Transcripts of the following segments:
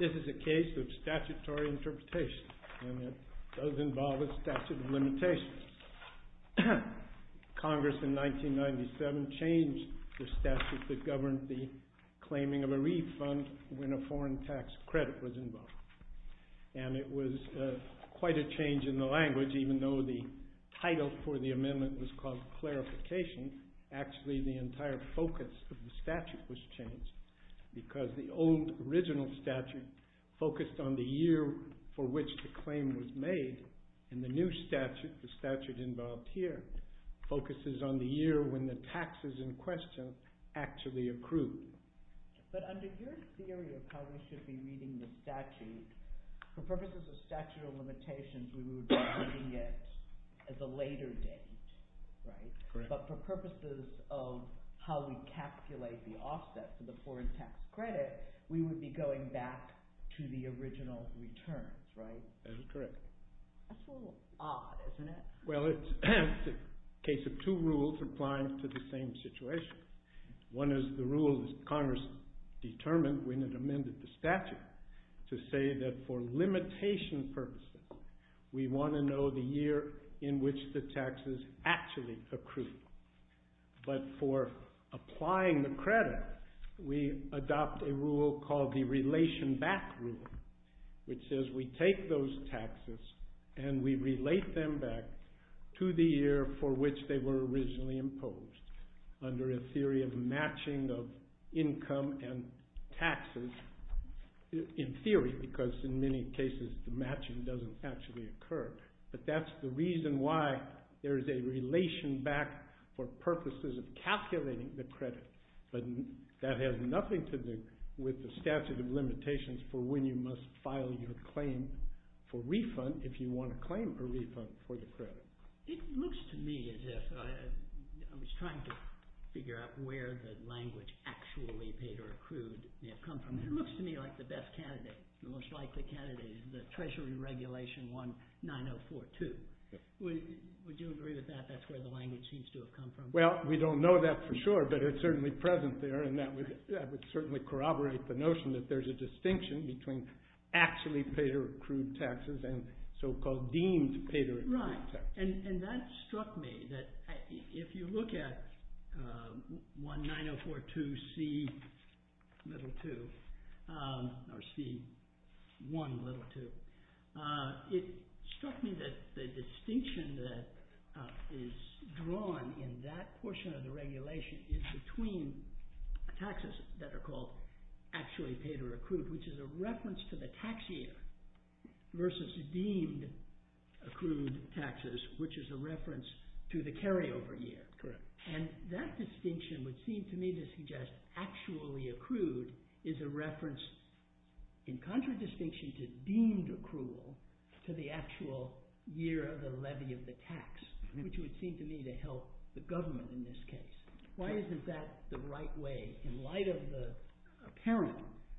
This is a case of statutory interpretation, and it does not apply to the United States. It does involve a statute of limitations. Congress in 1997 changed the statute that governed the claiming of a refund when a foreign tax credit was involved. And it was quite a change in the language, even though the title for the amendment was called Clarification, actually the entire focus of the statute was changed, because the old original statute focused on the year for which the claim was made, and the new statute, the statute involved here, focuses on the year when the taxes in question actually accrue. But under your theory of how we should be reading the statute, for purposes of statute of limitations, we would be reading it as a later date, right? But for purposes of how we calculate the offset for the foreign tax credit, we would be going back to the original return, right? That's correct. That's a little odd, isn't it? Well, it's a case of two rules applying to the same situation. One is the rule that Congress determined when it amended the statute to say that for limitation purposes, we want to know the year in which the taxes actually accrue. But for applying the credit, we adopt a rule called the Relation Back Rule, which says we take those taxes and we relate them back to the year for which they were originally imposed, under a theory of matching of income and taxes, in theory, because in many cases, the matching doesn't actually occur. But that's the reason why there is a relation back for purposes of calculating the credit. But that has nothing to do with the statute of limitations for when you must file your claim for refund if you want to claim a refund for your credit. It looks to me as if I was trying to figure out where the language actually paid or accrued may have come from. It looks to me like the best candidate, the most likely candidate, is the Treasury Regulation 19042. Would you agree with that? That's where the language seems to have come from. Well, we don't know that for sure, but it's certainly present there, and that would certainly corroborate the notion that there's a distinction between actually paid or accrued taxes and so-called deemed paid or accrued taxes. And that struck me, that if you look at 19042C1l2, it struck me that the distinction that is drawn in that portion of the regulation is between taxes that are called actually paid or accrued, which is a reference to the tax year, versus deemed accrued taxes, which is a reference to the carryover year. And that distinction would seem to me to suggest actually accrued is a reference in contradistinction to deemed accrual to the actual year of the levy of the tax, which would seem to me to help the government in this case. Why isn't that the right way? In light of the apparent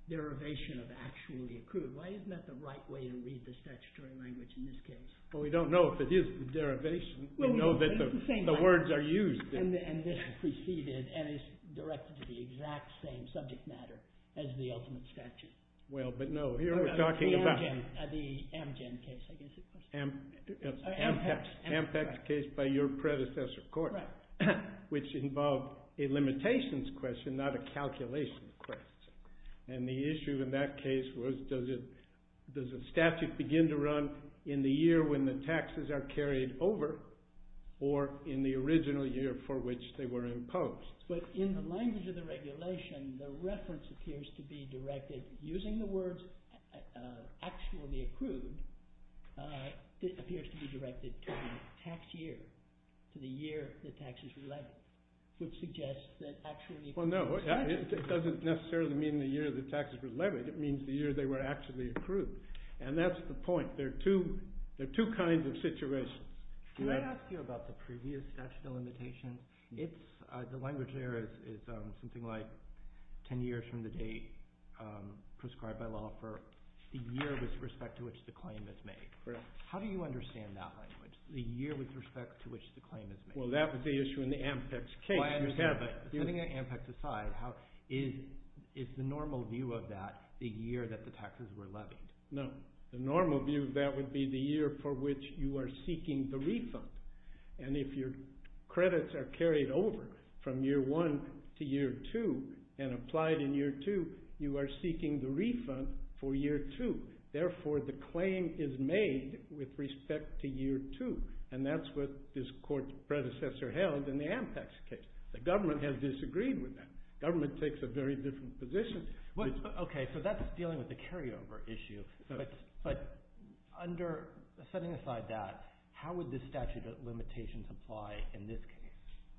derivation of actually accrued, why isn't that the right way to read the statutory language in this case? Well, we don't know if it is the derivation. We know that the words are used. And this is preceded and is directed to the exact same subject matter as the ultimate statute. Well, but no, here we're talking about... The Amgen case, I guess it was. Ampex case by your predecessor court. Right. Which involved a limitations question, not a calculation question. And the issue in that case was does a statute begin to run in the year when the taxes are carried over or in the original year for which they were imposed? But in the language of the regulation, the reference appears to be directed, using the words actually accrued, appears to be directed to the tax year, to the year the tax is relevant, which suggests that actually... Well, no, it doesn't necessarily mean the year the tax is relevant. It means the year they were actually accrued. And that's the point. There are two kinds of situations. Can I ask you about the previous statute of limitations? The language there is something like 10 years from the date prescribed by law for the year with respect to which the claim is made. How do you understand that language, the year with respect to which the claim is made? Well, that was the issue in the Ampex case. Setting Ampex aside, is the normal view of that the year that the taxes were levied? No. The normal view of that would be the year for which you are seeking the refund. And if your credits are carried over from year one to year two and applied in year two, you are seeking the refund for year two. Therefore, the claim is made with respect to year two. And that's what this court predecessor held in the Ampex case. The government has disagreed with that. Government takes a very different position. Okay, so that's dealing with the carryover issue. But setting aside that, how would this statute of limitations apply in this case?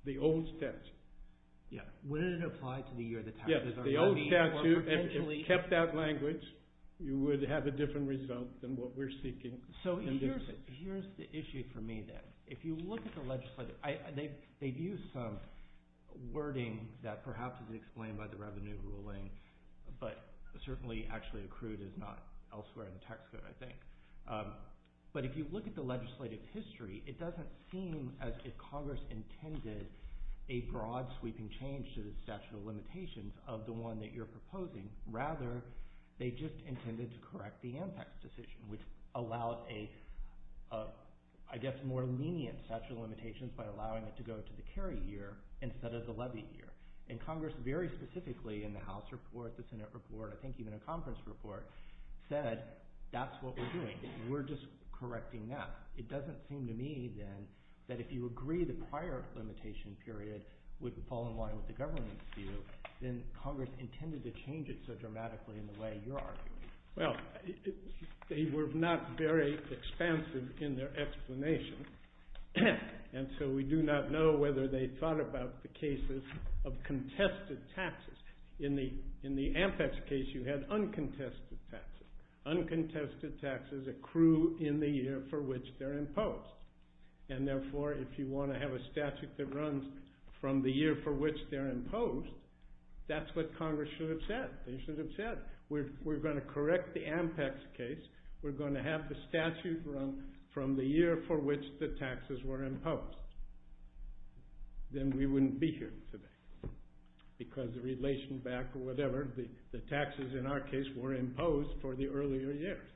The old statute. Would it apply to the year the taxes are levied? Yes, the old statute. If you kept that language, you would have a different result than what we're seeking. So here's the issue for me then. They've used some wording that perhaps is explained by the revenue ruling, but certainly actually accrued is not elsewhere in the tax code, I think. But if you look at the legislative history, it doesn't seem as if Congress intended a broad sweeping change to the statute of limitations of the one that you're proposing. Rather, they just intended to correct the Ampex decision, which allowed a, I guess, more lenient statute of limitations by allowing it to go to the carry year instead of the levy year. And Congress very specifically in the House report, the Senate report, I think even a conference report, said that's what we're doing. We're just correcting that. It doesn't seem to me then that if you agree the prior limitation period would fall in line with the government's view, then Congress intended to change it so dramatically in the way you're arguing. Well, they were not very expansive in their explanation. And so we do not know whether they thought about the cases of contested taxes. In the Ampex case, you had uncontested taxes. Uncontested taxes accrue in the year for which they're imposed. And therefore, if you want to have a statute that runs from the year for which they're imposed, that's what Congress should have said. They should have said, we're going to correct the Ampex case. We're going to have the statute run from the year for which the taxes were imposed. Then we wouldn't be here today. Because the relation back or whatever, the taxes in our case were imposed for the earlier years.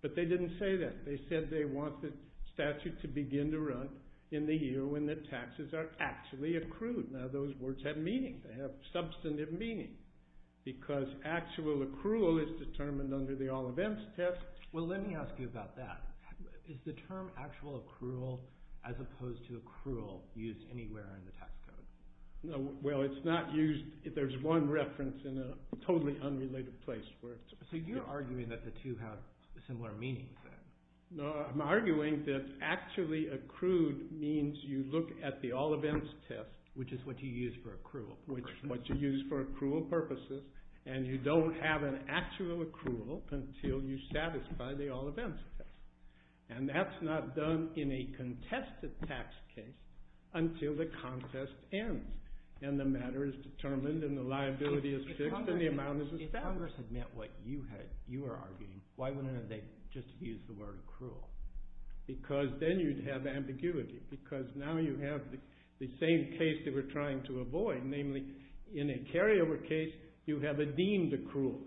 But they didn't say that. They said they want the statute to begin to run in the year when the taxes are actually accrued. Now, those words have meaning. They have substantive meaning. Because actual accrual is determined under the All Events Test. Well, let me ask you about that. Is the term actual accrual as opposed to accrual used anywhere in the tax code? Well, it's not used. There's one reference in a totally unrelated place where it's used. So you're arguing that the two have similar meanings then? No, I'm arguing that actually accrued means you look at the All Events Test, which is what you use for accrual, which is what you use for accrual purposes. And you don't have an actual accrual until you satisfy the All Events Test. And that's not done in a contested tax case until the contest ends. And the matter is determined, and the liability is fixed, and the amount is established. If Congress had met what you were arguing, why wouldn't they just have used the word accrual? Because then you'd have ambiguity. Because now you have the same case that we're trying to avoid. Namely, in a carryover case, you have a deemed accrual.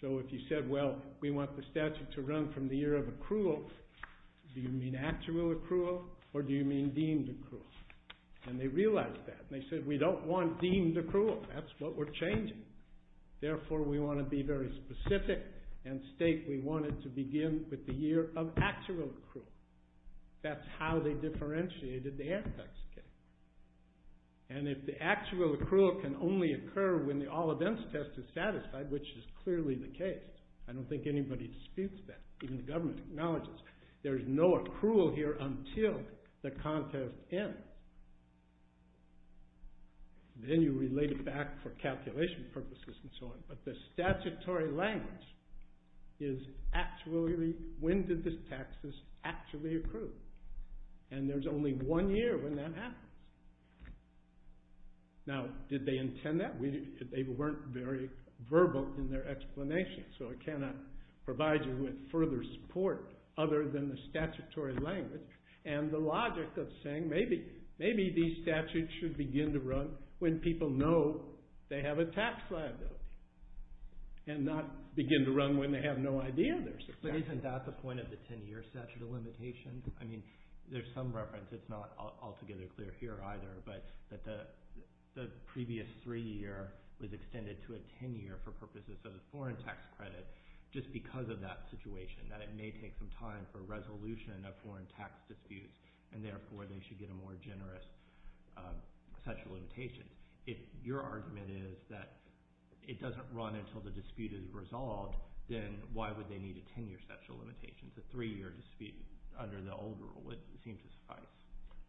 So if you said, well, we want the statute to run from the year of accrual, do you mean actual accrual, or do you mean deemed accrual? And they realized that. And they said, we don't want deemed accrual. That's what we're changing. Therefore, we want to be very specific and state we want it to begin with the year of actual accrual. That's how they differentiated the antitax case. And if the actual accrual can only occur when the All Events Test is satisfied, which is clearly the case. I don't think anybody disputes that. Even the government acknowledges. There's no accrual here until the contest ends. Then you relate it back for calculation purposes and so on. But the statutory language is actually, when did this taxes actually accrue? And there's only one year when that happens. Now, did they intend that? They weren't very verbal in their explanation. So I cannot provide you with further support other than the statutory language. And the logic of saying, maybe these statutes should begin to run when people know they have a tax liability. And not begin to run when they have no idea there's a tax liability. Isn't that the point of the 10-year statute of limitations? I mean, there's some reference. It's not altogether clear here either. But the previous three-year was extended to a 10-year for purposes of a foreign tax credit. Just because of that situation. That it may take some time for resolution of foreign tax disputes. And therefore, they should get a more generous statute of limitations. If your argument is that it doesn't run until the dispute is resolved. Then why would they need a 10-year statute of limitations? A three-year dispute under the old rule, it seems to suffice.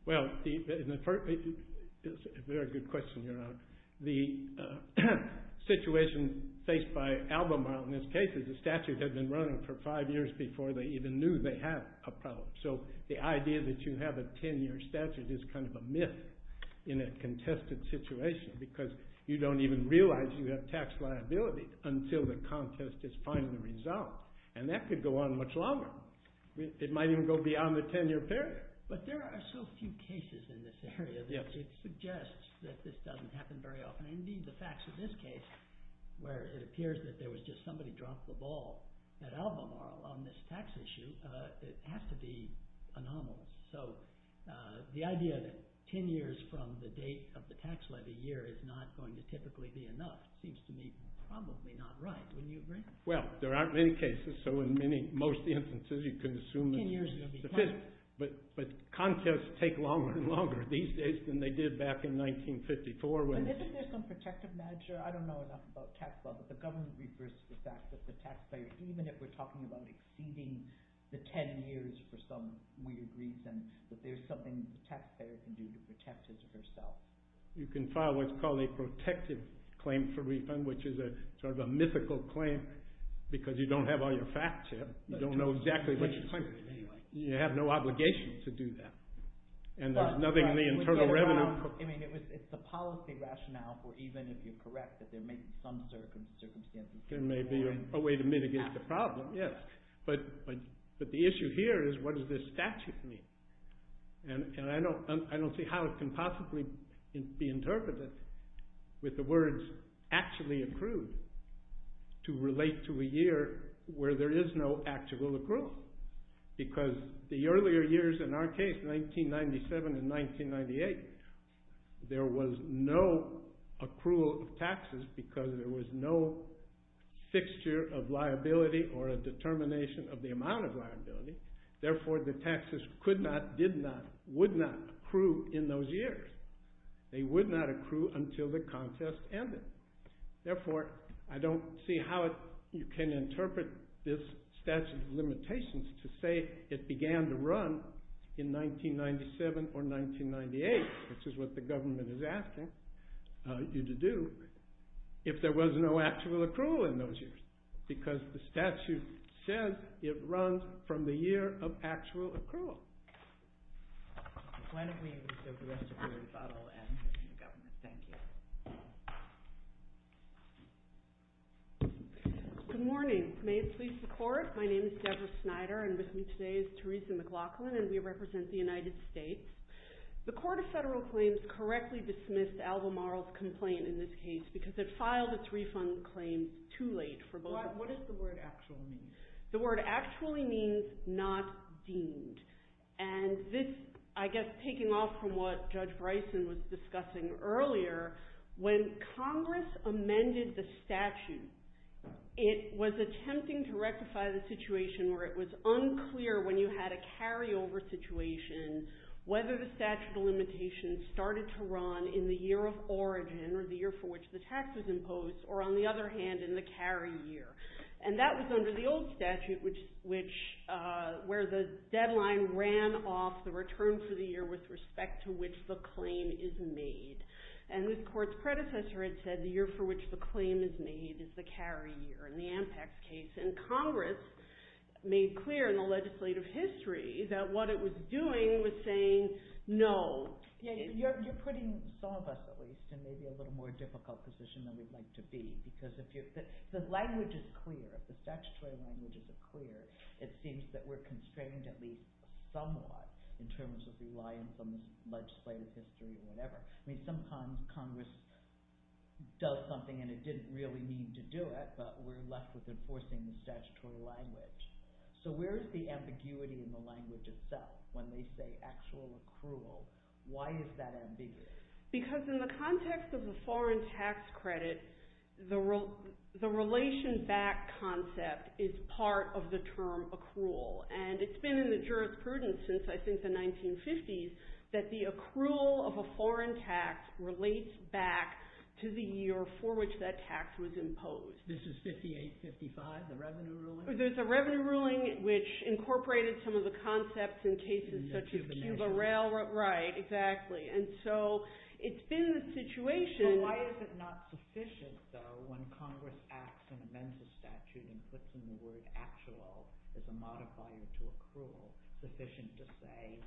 Well, it's a very good question, Your Honor. The situation faced by Albemarle in this case is the statute had been running for five years before they even knew they had a problem. So the idea that you have a 10-year statute is kind of a myth in a contested situation. Because you don't even realize you have tax liability until the contest is finally resolved. And that could go on much longer. It might even go beyond the 10-year period. But there are so few cases in this area that it suggests that this doesn't happen very often. Indeed, the facts of this case, where it appears that there was just somebody dropped the ball at Albemarle on this tax issue. It has to be anomalous. So the idea that 10 years from the date of the tax levy year is not going to typically be enough. Seems to me probably not right. Wouldn't you agree? Well, there aren't many cases. So in most instances, you can assume that it's sufficient. But contests take longer and longer these days than they did back in 1954. But isn't there some protective measure? I don't know enough about tax law, but the government refers to the fact that the taxpayer, even if we're talking about exceeding the 10 years for some weird reason, that there's something the taxpayer can do to protect herself. You can file what's called a protective claim for refund, which is sort of a mythical claim because you don't have all your facts yet. You don't know exactly what you're claiming. You have no obligation to do that. And there's nothing in the internal revenue. It's the policy rationale for even if you're correct that there may be some circumstances. There may be a way to mitigate the problem, yes. But the issue here is what does this statute mean? And I don't see how it can possibly be interpreted with the words actually accrued to relate to a year where there is no actual accrual. Because the earlier years in our case, 1997 and 1998, there was no accrual of taxes because there was no fixture of liability or a determination of the amount of liability. Therefore, the taxes could not, did not, would not accrue in those years. They would not accrue until the contest ended. Therefore, I don't see how you can interpret this statute of limitations to say it began to run in 1997 or 1998, which is what the government is asking you to do, if there was no actual accrual in those years because the statute says it runs from the year of actual accrual. Good morning. May it please the Court. My name is Deborah Snyder and with me today is Theresa McLaughlin and we represent the United States. The Court of Federal Claims correctly dismissed Alva Marl's complaint in this case because it filed its refund claim too late for both of them. What does the word actually mean? The word actually means not deemed. And this, I guess, taking off from what Judge Bryson was discussing earlier, when Congress amended the statute, it was attempting to rectify the situation where it was unclear when you had a carryover situation whether the statute of limitations started to run in the year of origin or the year for which the tax was imposed or, on the other hand, in the carry year. And that was under the old statute, where the deadline ran off the return for the year with respect to which the claim is made. And this Court's predecessor had said the year for which the claim is made is the carry year in the Ampex case and Congress made clear in the legislative history that what it was doing was saying no. You're putting some of us, at least, in maybe a little more difficult position than we'd like to be because if the language is clear, if the statutory language is clear, it seems that we're constrained at least somewhat in terms of relying on legislative history or whatever. I mean, sometimes Congress does something and it didn't really need to do it, but we're left with enforcing the statutory language. So where is the ambiguity in the language itself when they say actual accrual? Why is that ambiguity? Because in the context of the foreign tax credit, the relation back concept is part of the term accrual. And it's been in the jurisprudence since, I think, the 1950s that the accrual of a foreign tax relates back to the year for which that tax was imposed. This is 5855, the Revenue Ruling? There's a Revenue Ruling which incorporated some of the concepts in cases such as Cuba Rail. Right, exactly. And so it's been the situation... So why is it not sufficient, though, when Congress acts and amends the statute and puts in the word actual as a modifier to accrual, sufficient to say,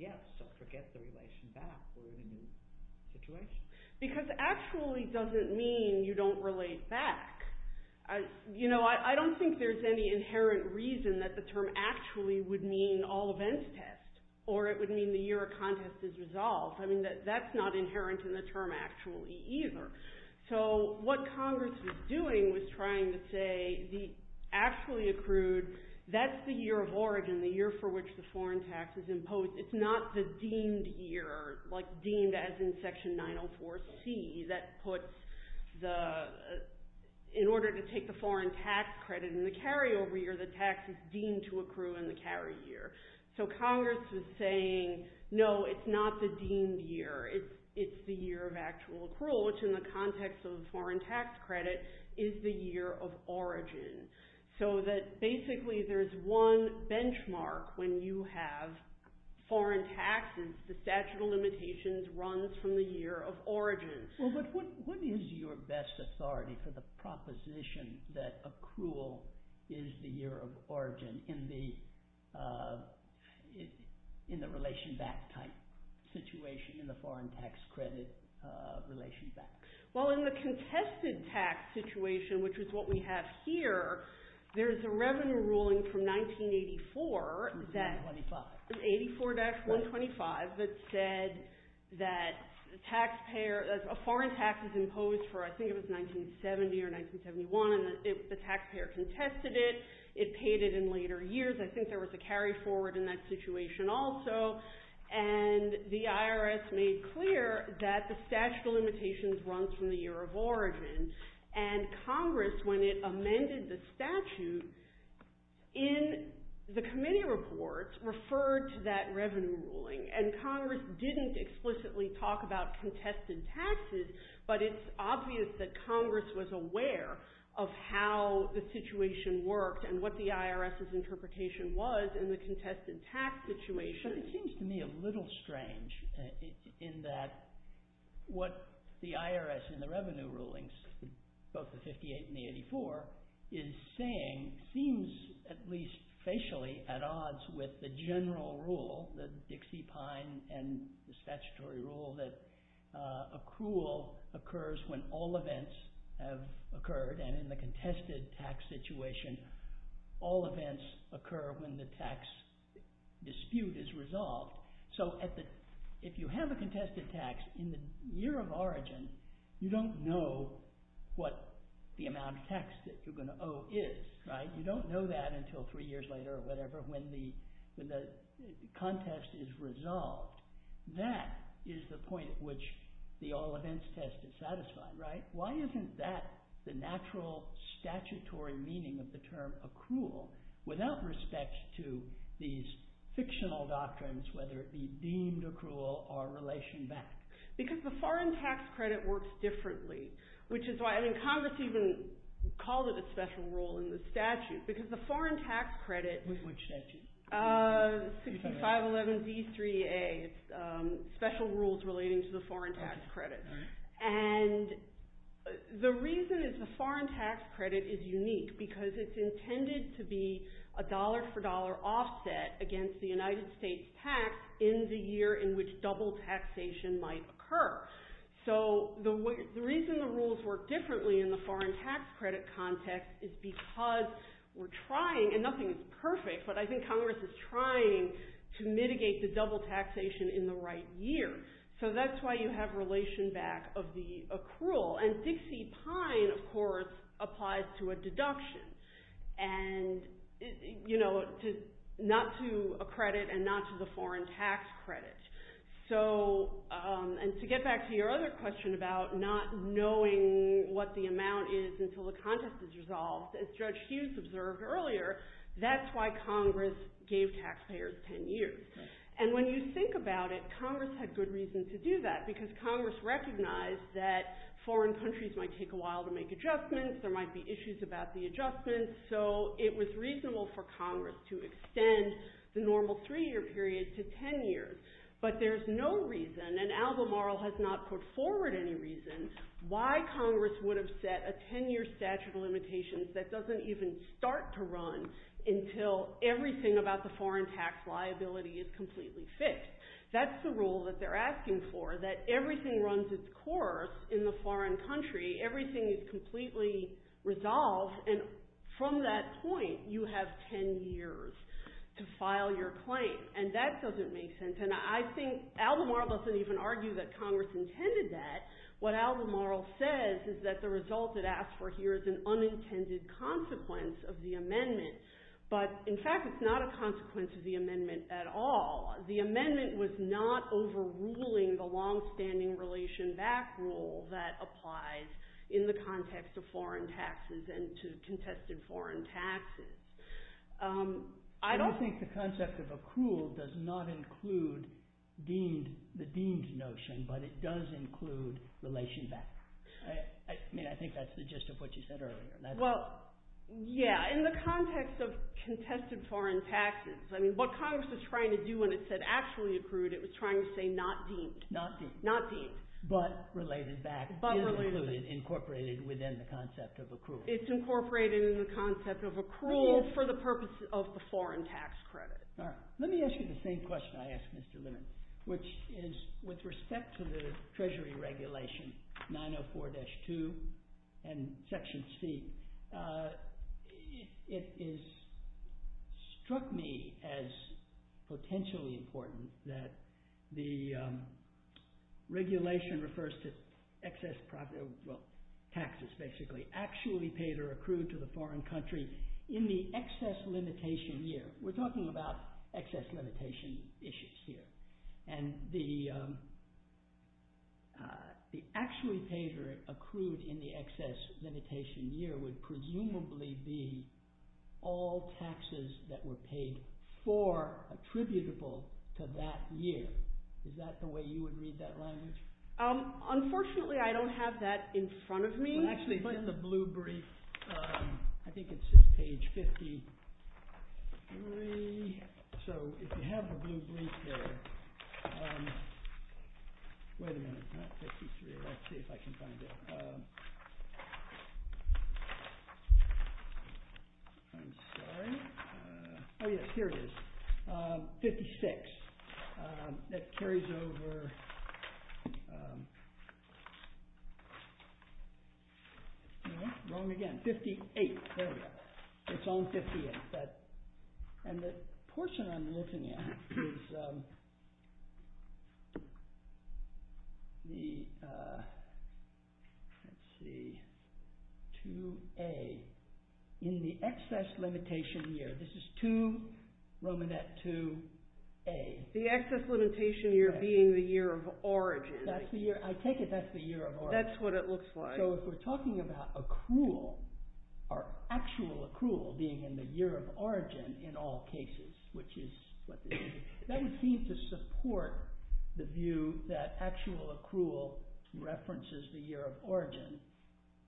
yes, forget the relation back or remove the situation? Because actually doesn't mean you don't relate back. You know, I don't think there's any inherent reason that the term actually would mean all events test or it would mean the year a contest is resolved. I mean, that's not inherent in the term actually either. So what Congress was doing was trying to say the actually accrued, that's the year of origin, the year for which the foreign tax is imposed. It's not the deemed year, like deemed as in Section 904C that puts the... In order to take the foreign tax credit in the carryover year, the tax is deemed to accrue in the carry year. So Congress is saying, no, it's not the deemed year. It's the year of actual accrual, which in the context of the foreign tax credit is the year of origin. So that basically there's one benchmark when you have foreign taxes, the statute of limitations runs from the year of origin. What is your best authority for the proposition that accrual is the year of origin in the relation back type situation in the foreign tax credit relation back? Well, in the contested tax situation, which is what we have here, there's a revenue ruling from 1984 that... 184-125. 184-125 that said that the taxpayer... A foreign tax is imposed for, I think it was 1970 or 1971, and the taxpayer contested it. It paid it in later years. I think there was a carry forward in that situation also. And the IRS made clear that the statute of limitations runs from the year of origin. And Congress, when it amended the statute, in the committee reports, referred to that revenue ruling. And Congress didn't explicitly talk about contested taxes, but it's obvious that Congress was aware of how the situation worked and what the IRS's interpretation was in the contested tax situation. But it seems to me a little strange in that what the IRS in the revenue rulings, both the 58 and the 84, is saying seems, at least facially, at odds with the general rule, the Dixie Pine and the statutory rule that accrual occurs when all events have occurred. And in the contested tax situation, all events occur when the tax dispute is resolved. So if you have a contested tax in the year of origin, you don't know what the amount of tax that you're going to owe is, right? You don't know that until three years later or whatever when the contest is resolved. That is the point at which the all events test is satisfied, right? Why isn't that the natural statutory meaning of the term accrual without respect to these fictional doctrines, whether it be deemed accrual or relation-backed? Because the foreign tax credit works differently. Congress even called it a special rule in the statute because the foreign tax credit... Which statute? 6511b3a. It's special rules relating to the foreign tax credit. And the reason is the foreign tax credit is unique because it's intended to be a dollar-for-dollar offset against the United States tax in the year in which double taxation might occur. So the reason the rules work differently in the foreign tax credit context is because we're trying, and nothing is perfect, but I think Congress is trying to mitigate the double taxation in the right year. So that's why you have relation-back of the accrual. And Dixie Pine, of course, applies to a deduction. And, you know, not to a credit and not to the foreign tax credit. So, and to get back to your other question about not knowing what the amount is until the contest is resolved, as Judge Hughes observed earlier, that's why Congress gave taxpayers ten years. And when you think about it, Congress had good reason to do that because Congress recognized that foreign countries might take a while to make adjustments, there might be issues about the adjustments, so it was reasonable for Congress to extend the normal three-year period to ten years. But there's no reason, and Al-Ghamaral has not put forward any reason, why Congress would have set a ten-year statute of limitations that doesn't even start to run until everything about the foreign tax liability is completely fixed. That's the rule that they're asking for, that everything runs its course in the foreign country, everything is completely resolved, and from that point you have ten years to file your claim. And that doesn't make sense. And I think Al-Ghamaral doesn't even argue that Congress intended that. What Al-Ghamaral says is that the result it asks for here is an unintended consequence of the amendment. But, in fact, it's not a consequence of the amendment at all. The amendment was not overruling the long-standing relation-back rule that applies in the context of foreign taxes and to contested foreign taxes. I don't think the concept of accrual does not include the deemed notion, but it does include relation-back. I mean, I think that's the gist of what you said earlier. Well, yeah, in the context of contested foreign taxes, I mean, what Congress was trying to do when it said actually accrued, it was trying to say not deemed. Not deemed. Not deemed. But related-back. But related-back. Incorporated within the concept of accrual. It's incorporated in the concept of accrual for the purpose of the foreign tax credit. All right. Let me ask you the same question I asked Mr. Leonard, which is with respect to the Treasury regulation, 904-2 and Section C, it has struck me as potentially important that the regulation refers to excess property, well, taxes basically, actually paid or accrued to the foreign country in the excess limitation year. We're talking about excess limitation issues here. And the actually paid or accrued in the excess limitation year would presumably be all taxes that were paid for attributable to that year. Is that the way you would read that language? Unfortunately, I don't have that in front of me. Well, actually, it's in the blue brief. I think it's page 53. So if you have the blue brief there... Wait a minute, not 53. Let's see if I can find it. I'm sorry. Oh, yes, here it is. 56. That carries over... Wrong again. 58. There we go. It's on 58. And the portion I'm looking at is... The... Let's see. 2A. In the excess limitation year. This is 2, Romanette 2A. The excess limitation year being the year of origin. I take it that's the year of origin. That's what it looks like. So if we're talking about accrual, or actual accrual being in the year of origin in all cases, that would seem to support the view that actual accrual references the year of origin,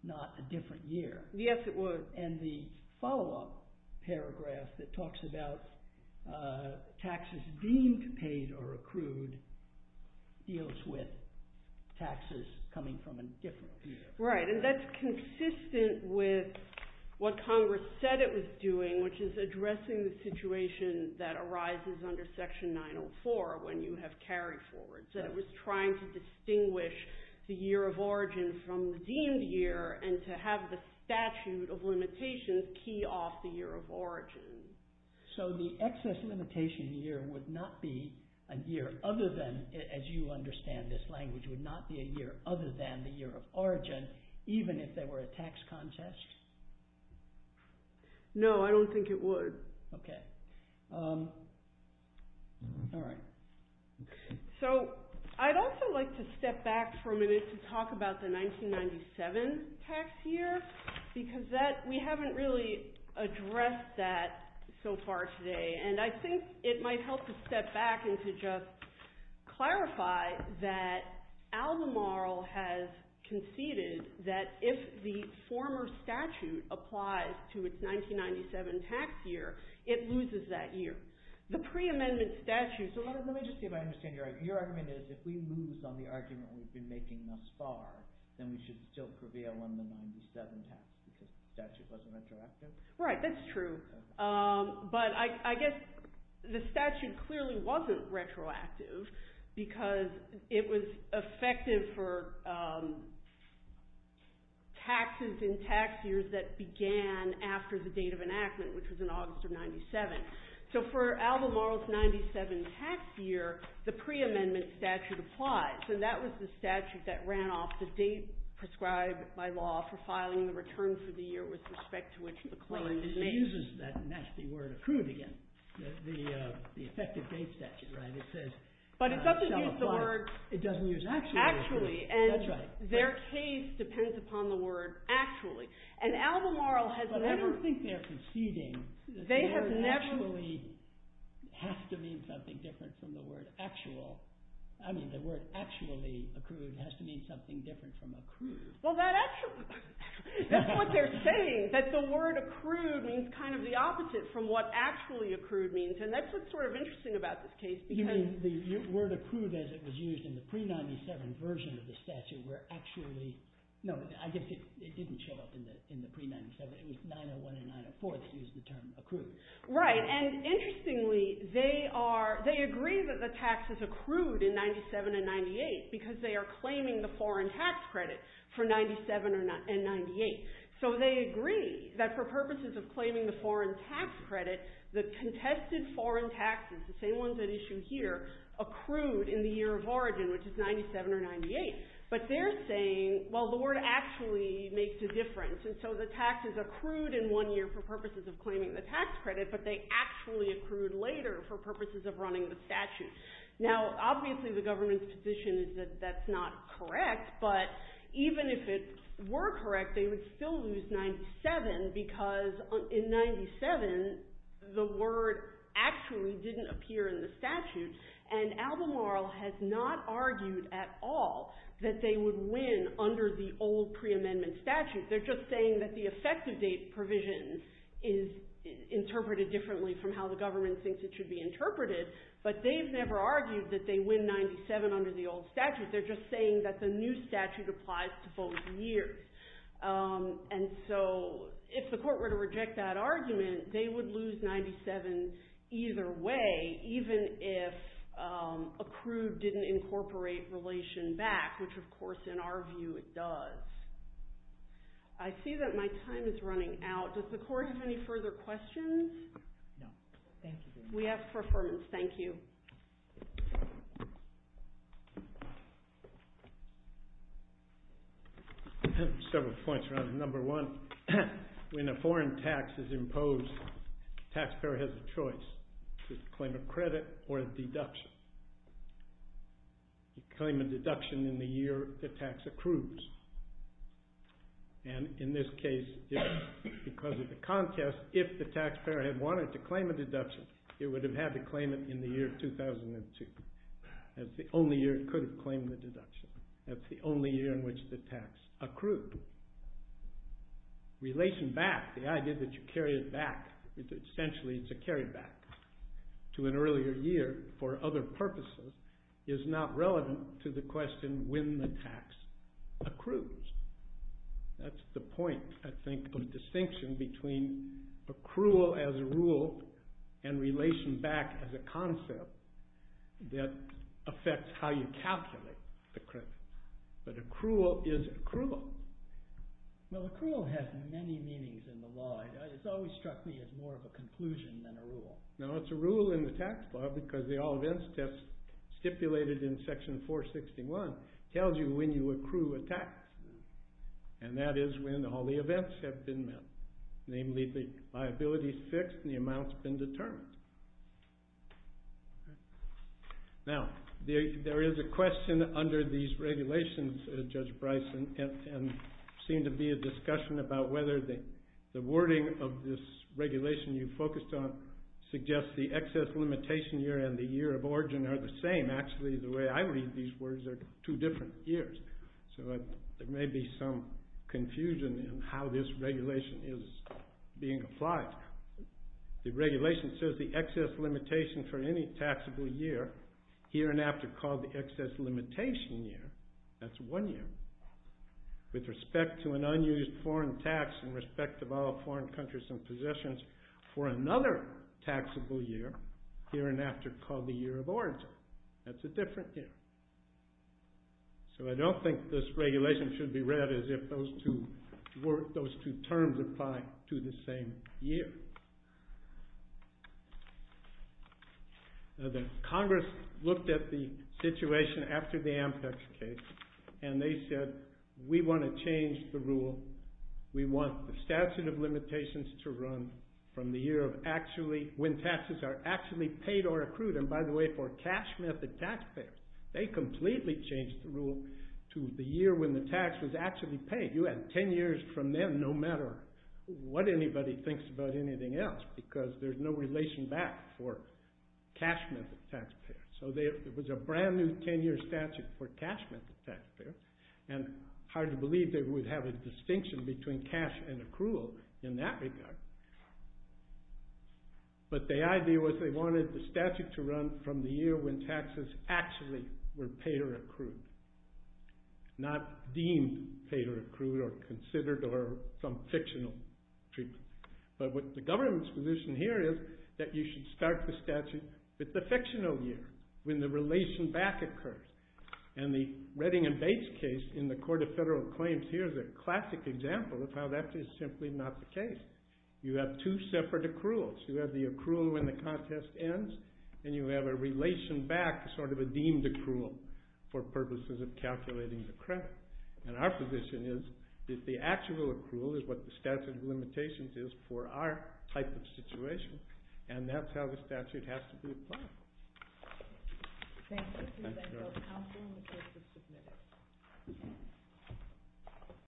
not a different year. Yes, it would. And the follow-up paragraph that talks about taxes deemed paid or accrued deals with taxes coming from a different year. Right. And that's consistent with what Congress said it was doing, which is addressing the situation that arises under Section 904 when you have carry-forwards, that it was trying to distinguish the year of origin from redeemed year and to have the statute of limitations key off the year of origin. So the excess limitation year would not be a year other than, as you understand this language, would not be a year other than the year of origin, even if there were a tax contest? No, I don't think it would. Okay. All right. So I'd also like to step back for a minute to talk about the 1997 tax year because we haven't really addressed that so far today. And I think it might help to step back and to just clarify that Al-Namr al has conceded that if the former statute applies to its 1997 tax year, it loses that year. The pre-amendment statute... So let me just see if I understand your argument. Your argument is if we lose on the argument we've been making thus far, then we should still prevail on the 1997 tax because the statute wasn't retroactive? Right, that's true. But I guess the statute clearly wasn't retroactive because it was effective for taxes in tax years that began after the date of enactment, which was in August of 1997. So for Al-Namr's 1997 tax year, the pre-amendment statute applies. So that was the statute that ran off the date prescribed by law for filing the return for the year with respect to which the claim was made. Well, it uses that nasty word, accrued, again. The effective date statute, right? But it doesn't use the word actually. And their case depends upon the word actually. But I don't think they're conceding that the word actually has to mean something different from the word actual. I mean, the word actually accrued has to mean something different from accrued. Well, that's what they're saying, that the word accrued means kind of the opposite from what actually accrued means. And that's what's sort of interesting about this case. You mean the word accrued as it was used in the pre-'97 version of the statute were actually, no, I guess it didn't show up in the pre-'97. It was 901 and 904 that used the term accrued. Right. And interestingly, they agree that the taxes accrued in 97 and 98 because they are claiming the foreign tax credit for 97 and 98. So they agree that for purposes of claiming the foreign tax credit, the contested foreign taxes, the same ones at issue here, accrued in the year of origin, which is 97 or 98. But they're saying, well, the word actually makes a difference. And so the taxes accrued in one year for purposes of claiming the tax credit, but they actually accrued later for purposes of running the statute. Now, obviously, the government's position is that that's not correct. But even if it were correct, they would still lose 97 because in 97, the word actually didn't appear in the statute. And Albemarle has not argued at all that they would win under the old pre-amendment statute. They're just saying that the effective date provision is interpreted differently from how the government thinks it should be interpreted. But they've never argued that they win 97 under the old statute. They're just saying that the new statute applies to both years. And so if the court were to reject that argument, they would lose 97 either way, even if accrued didn't incorporate relation back, which, of course, in our view, it does. I see that my time is running out. Does the court have any further questions? No. Thank you very much. We ask for affirmance. Thank you. Several points around number one. When a foreign tax is imposed, the taxpayer has a choice to claim a credit or a deduction. Claim a deduction in the year the tax accrues. And in this case, because of the contest, if the taxpayer had wanted to claim a deduction, it would have had to claim it in the year 2002. That's the only year it could have claimed the deduction. That's the only year in which the tax accrued. Relation back, the idea that you carry it back, essentially it's a carry back to an earlier year for other purposes, is not relevant to the question when the tax accrues. That's the point, I think, of the distinction between accrual as a rule and relation back as a concept that affects how you calculate the credit. But accrual is accrual. Well, accrual has many meanings in the law. It's always struck me as more of a conclusion than a rule. No, it's a rule in the tax law because the all events test stipulated in section 461 tells you when you accrue a tax. And that is when all the events have been met. Namely, the liability's fixed and the amount's been determined. Now, there is a question under these regulations, Judge Bryce, and seemed to be a discussion about whether the wording of this regulation you focused on suggests the excess limitation year and the year of origin are the same. Actually, the way I read these words are two different years. So there may be some confusion in how this regulation is being applied. The regulation says the excess limitation for any taxable year here and after called the excess limitation year. That's one year. With respect to an unused foreign tax in respect of all foreign countries and possessions for another taxable year here and after called the year of origin. That's a different year. So I don't think this regulation should be read as if those two terms apply to the same year. The Congress looked at the situation after the Ampex case, and they said, we want to change the rule. We want the statute of limitations to run from the year when taxes are actually paid or accrued. And by the way, for cash method taxpayers, they completely changed the rule to the year when the tax was actually paid. You had 10 years from then, no matter what anybody thinks about anything else, because there's no relation back for cash method taxpayers. So there was a brand new 10-year statute for cash method taxpayers, and hard to believe they would have a distinction between cash and accrual in that regard. But the idea was they wanted the statute to run from the year when taxes actually were paid or accrued. Not deemed paid or accrued or considered or some fictional treatment. But what the government's position here is that you should start the statute with the fictional year, when the relation back occurs. And the Redding and Bates case in the Court of Federal Claims here is a classic example of how that is simply not the case. You have two separate accruals. You have the accrual when the contest ends, and you have a relation back, sort of a deemed accrual, for purposes of calculating the credit. And our position is that the actual accrual is what the statute of limitations is for our type of situation. And that's how the statute has to be applied. Thank you. Thank you. Thank you, counsel, and the case is submitted.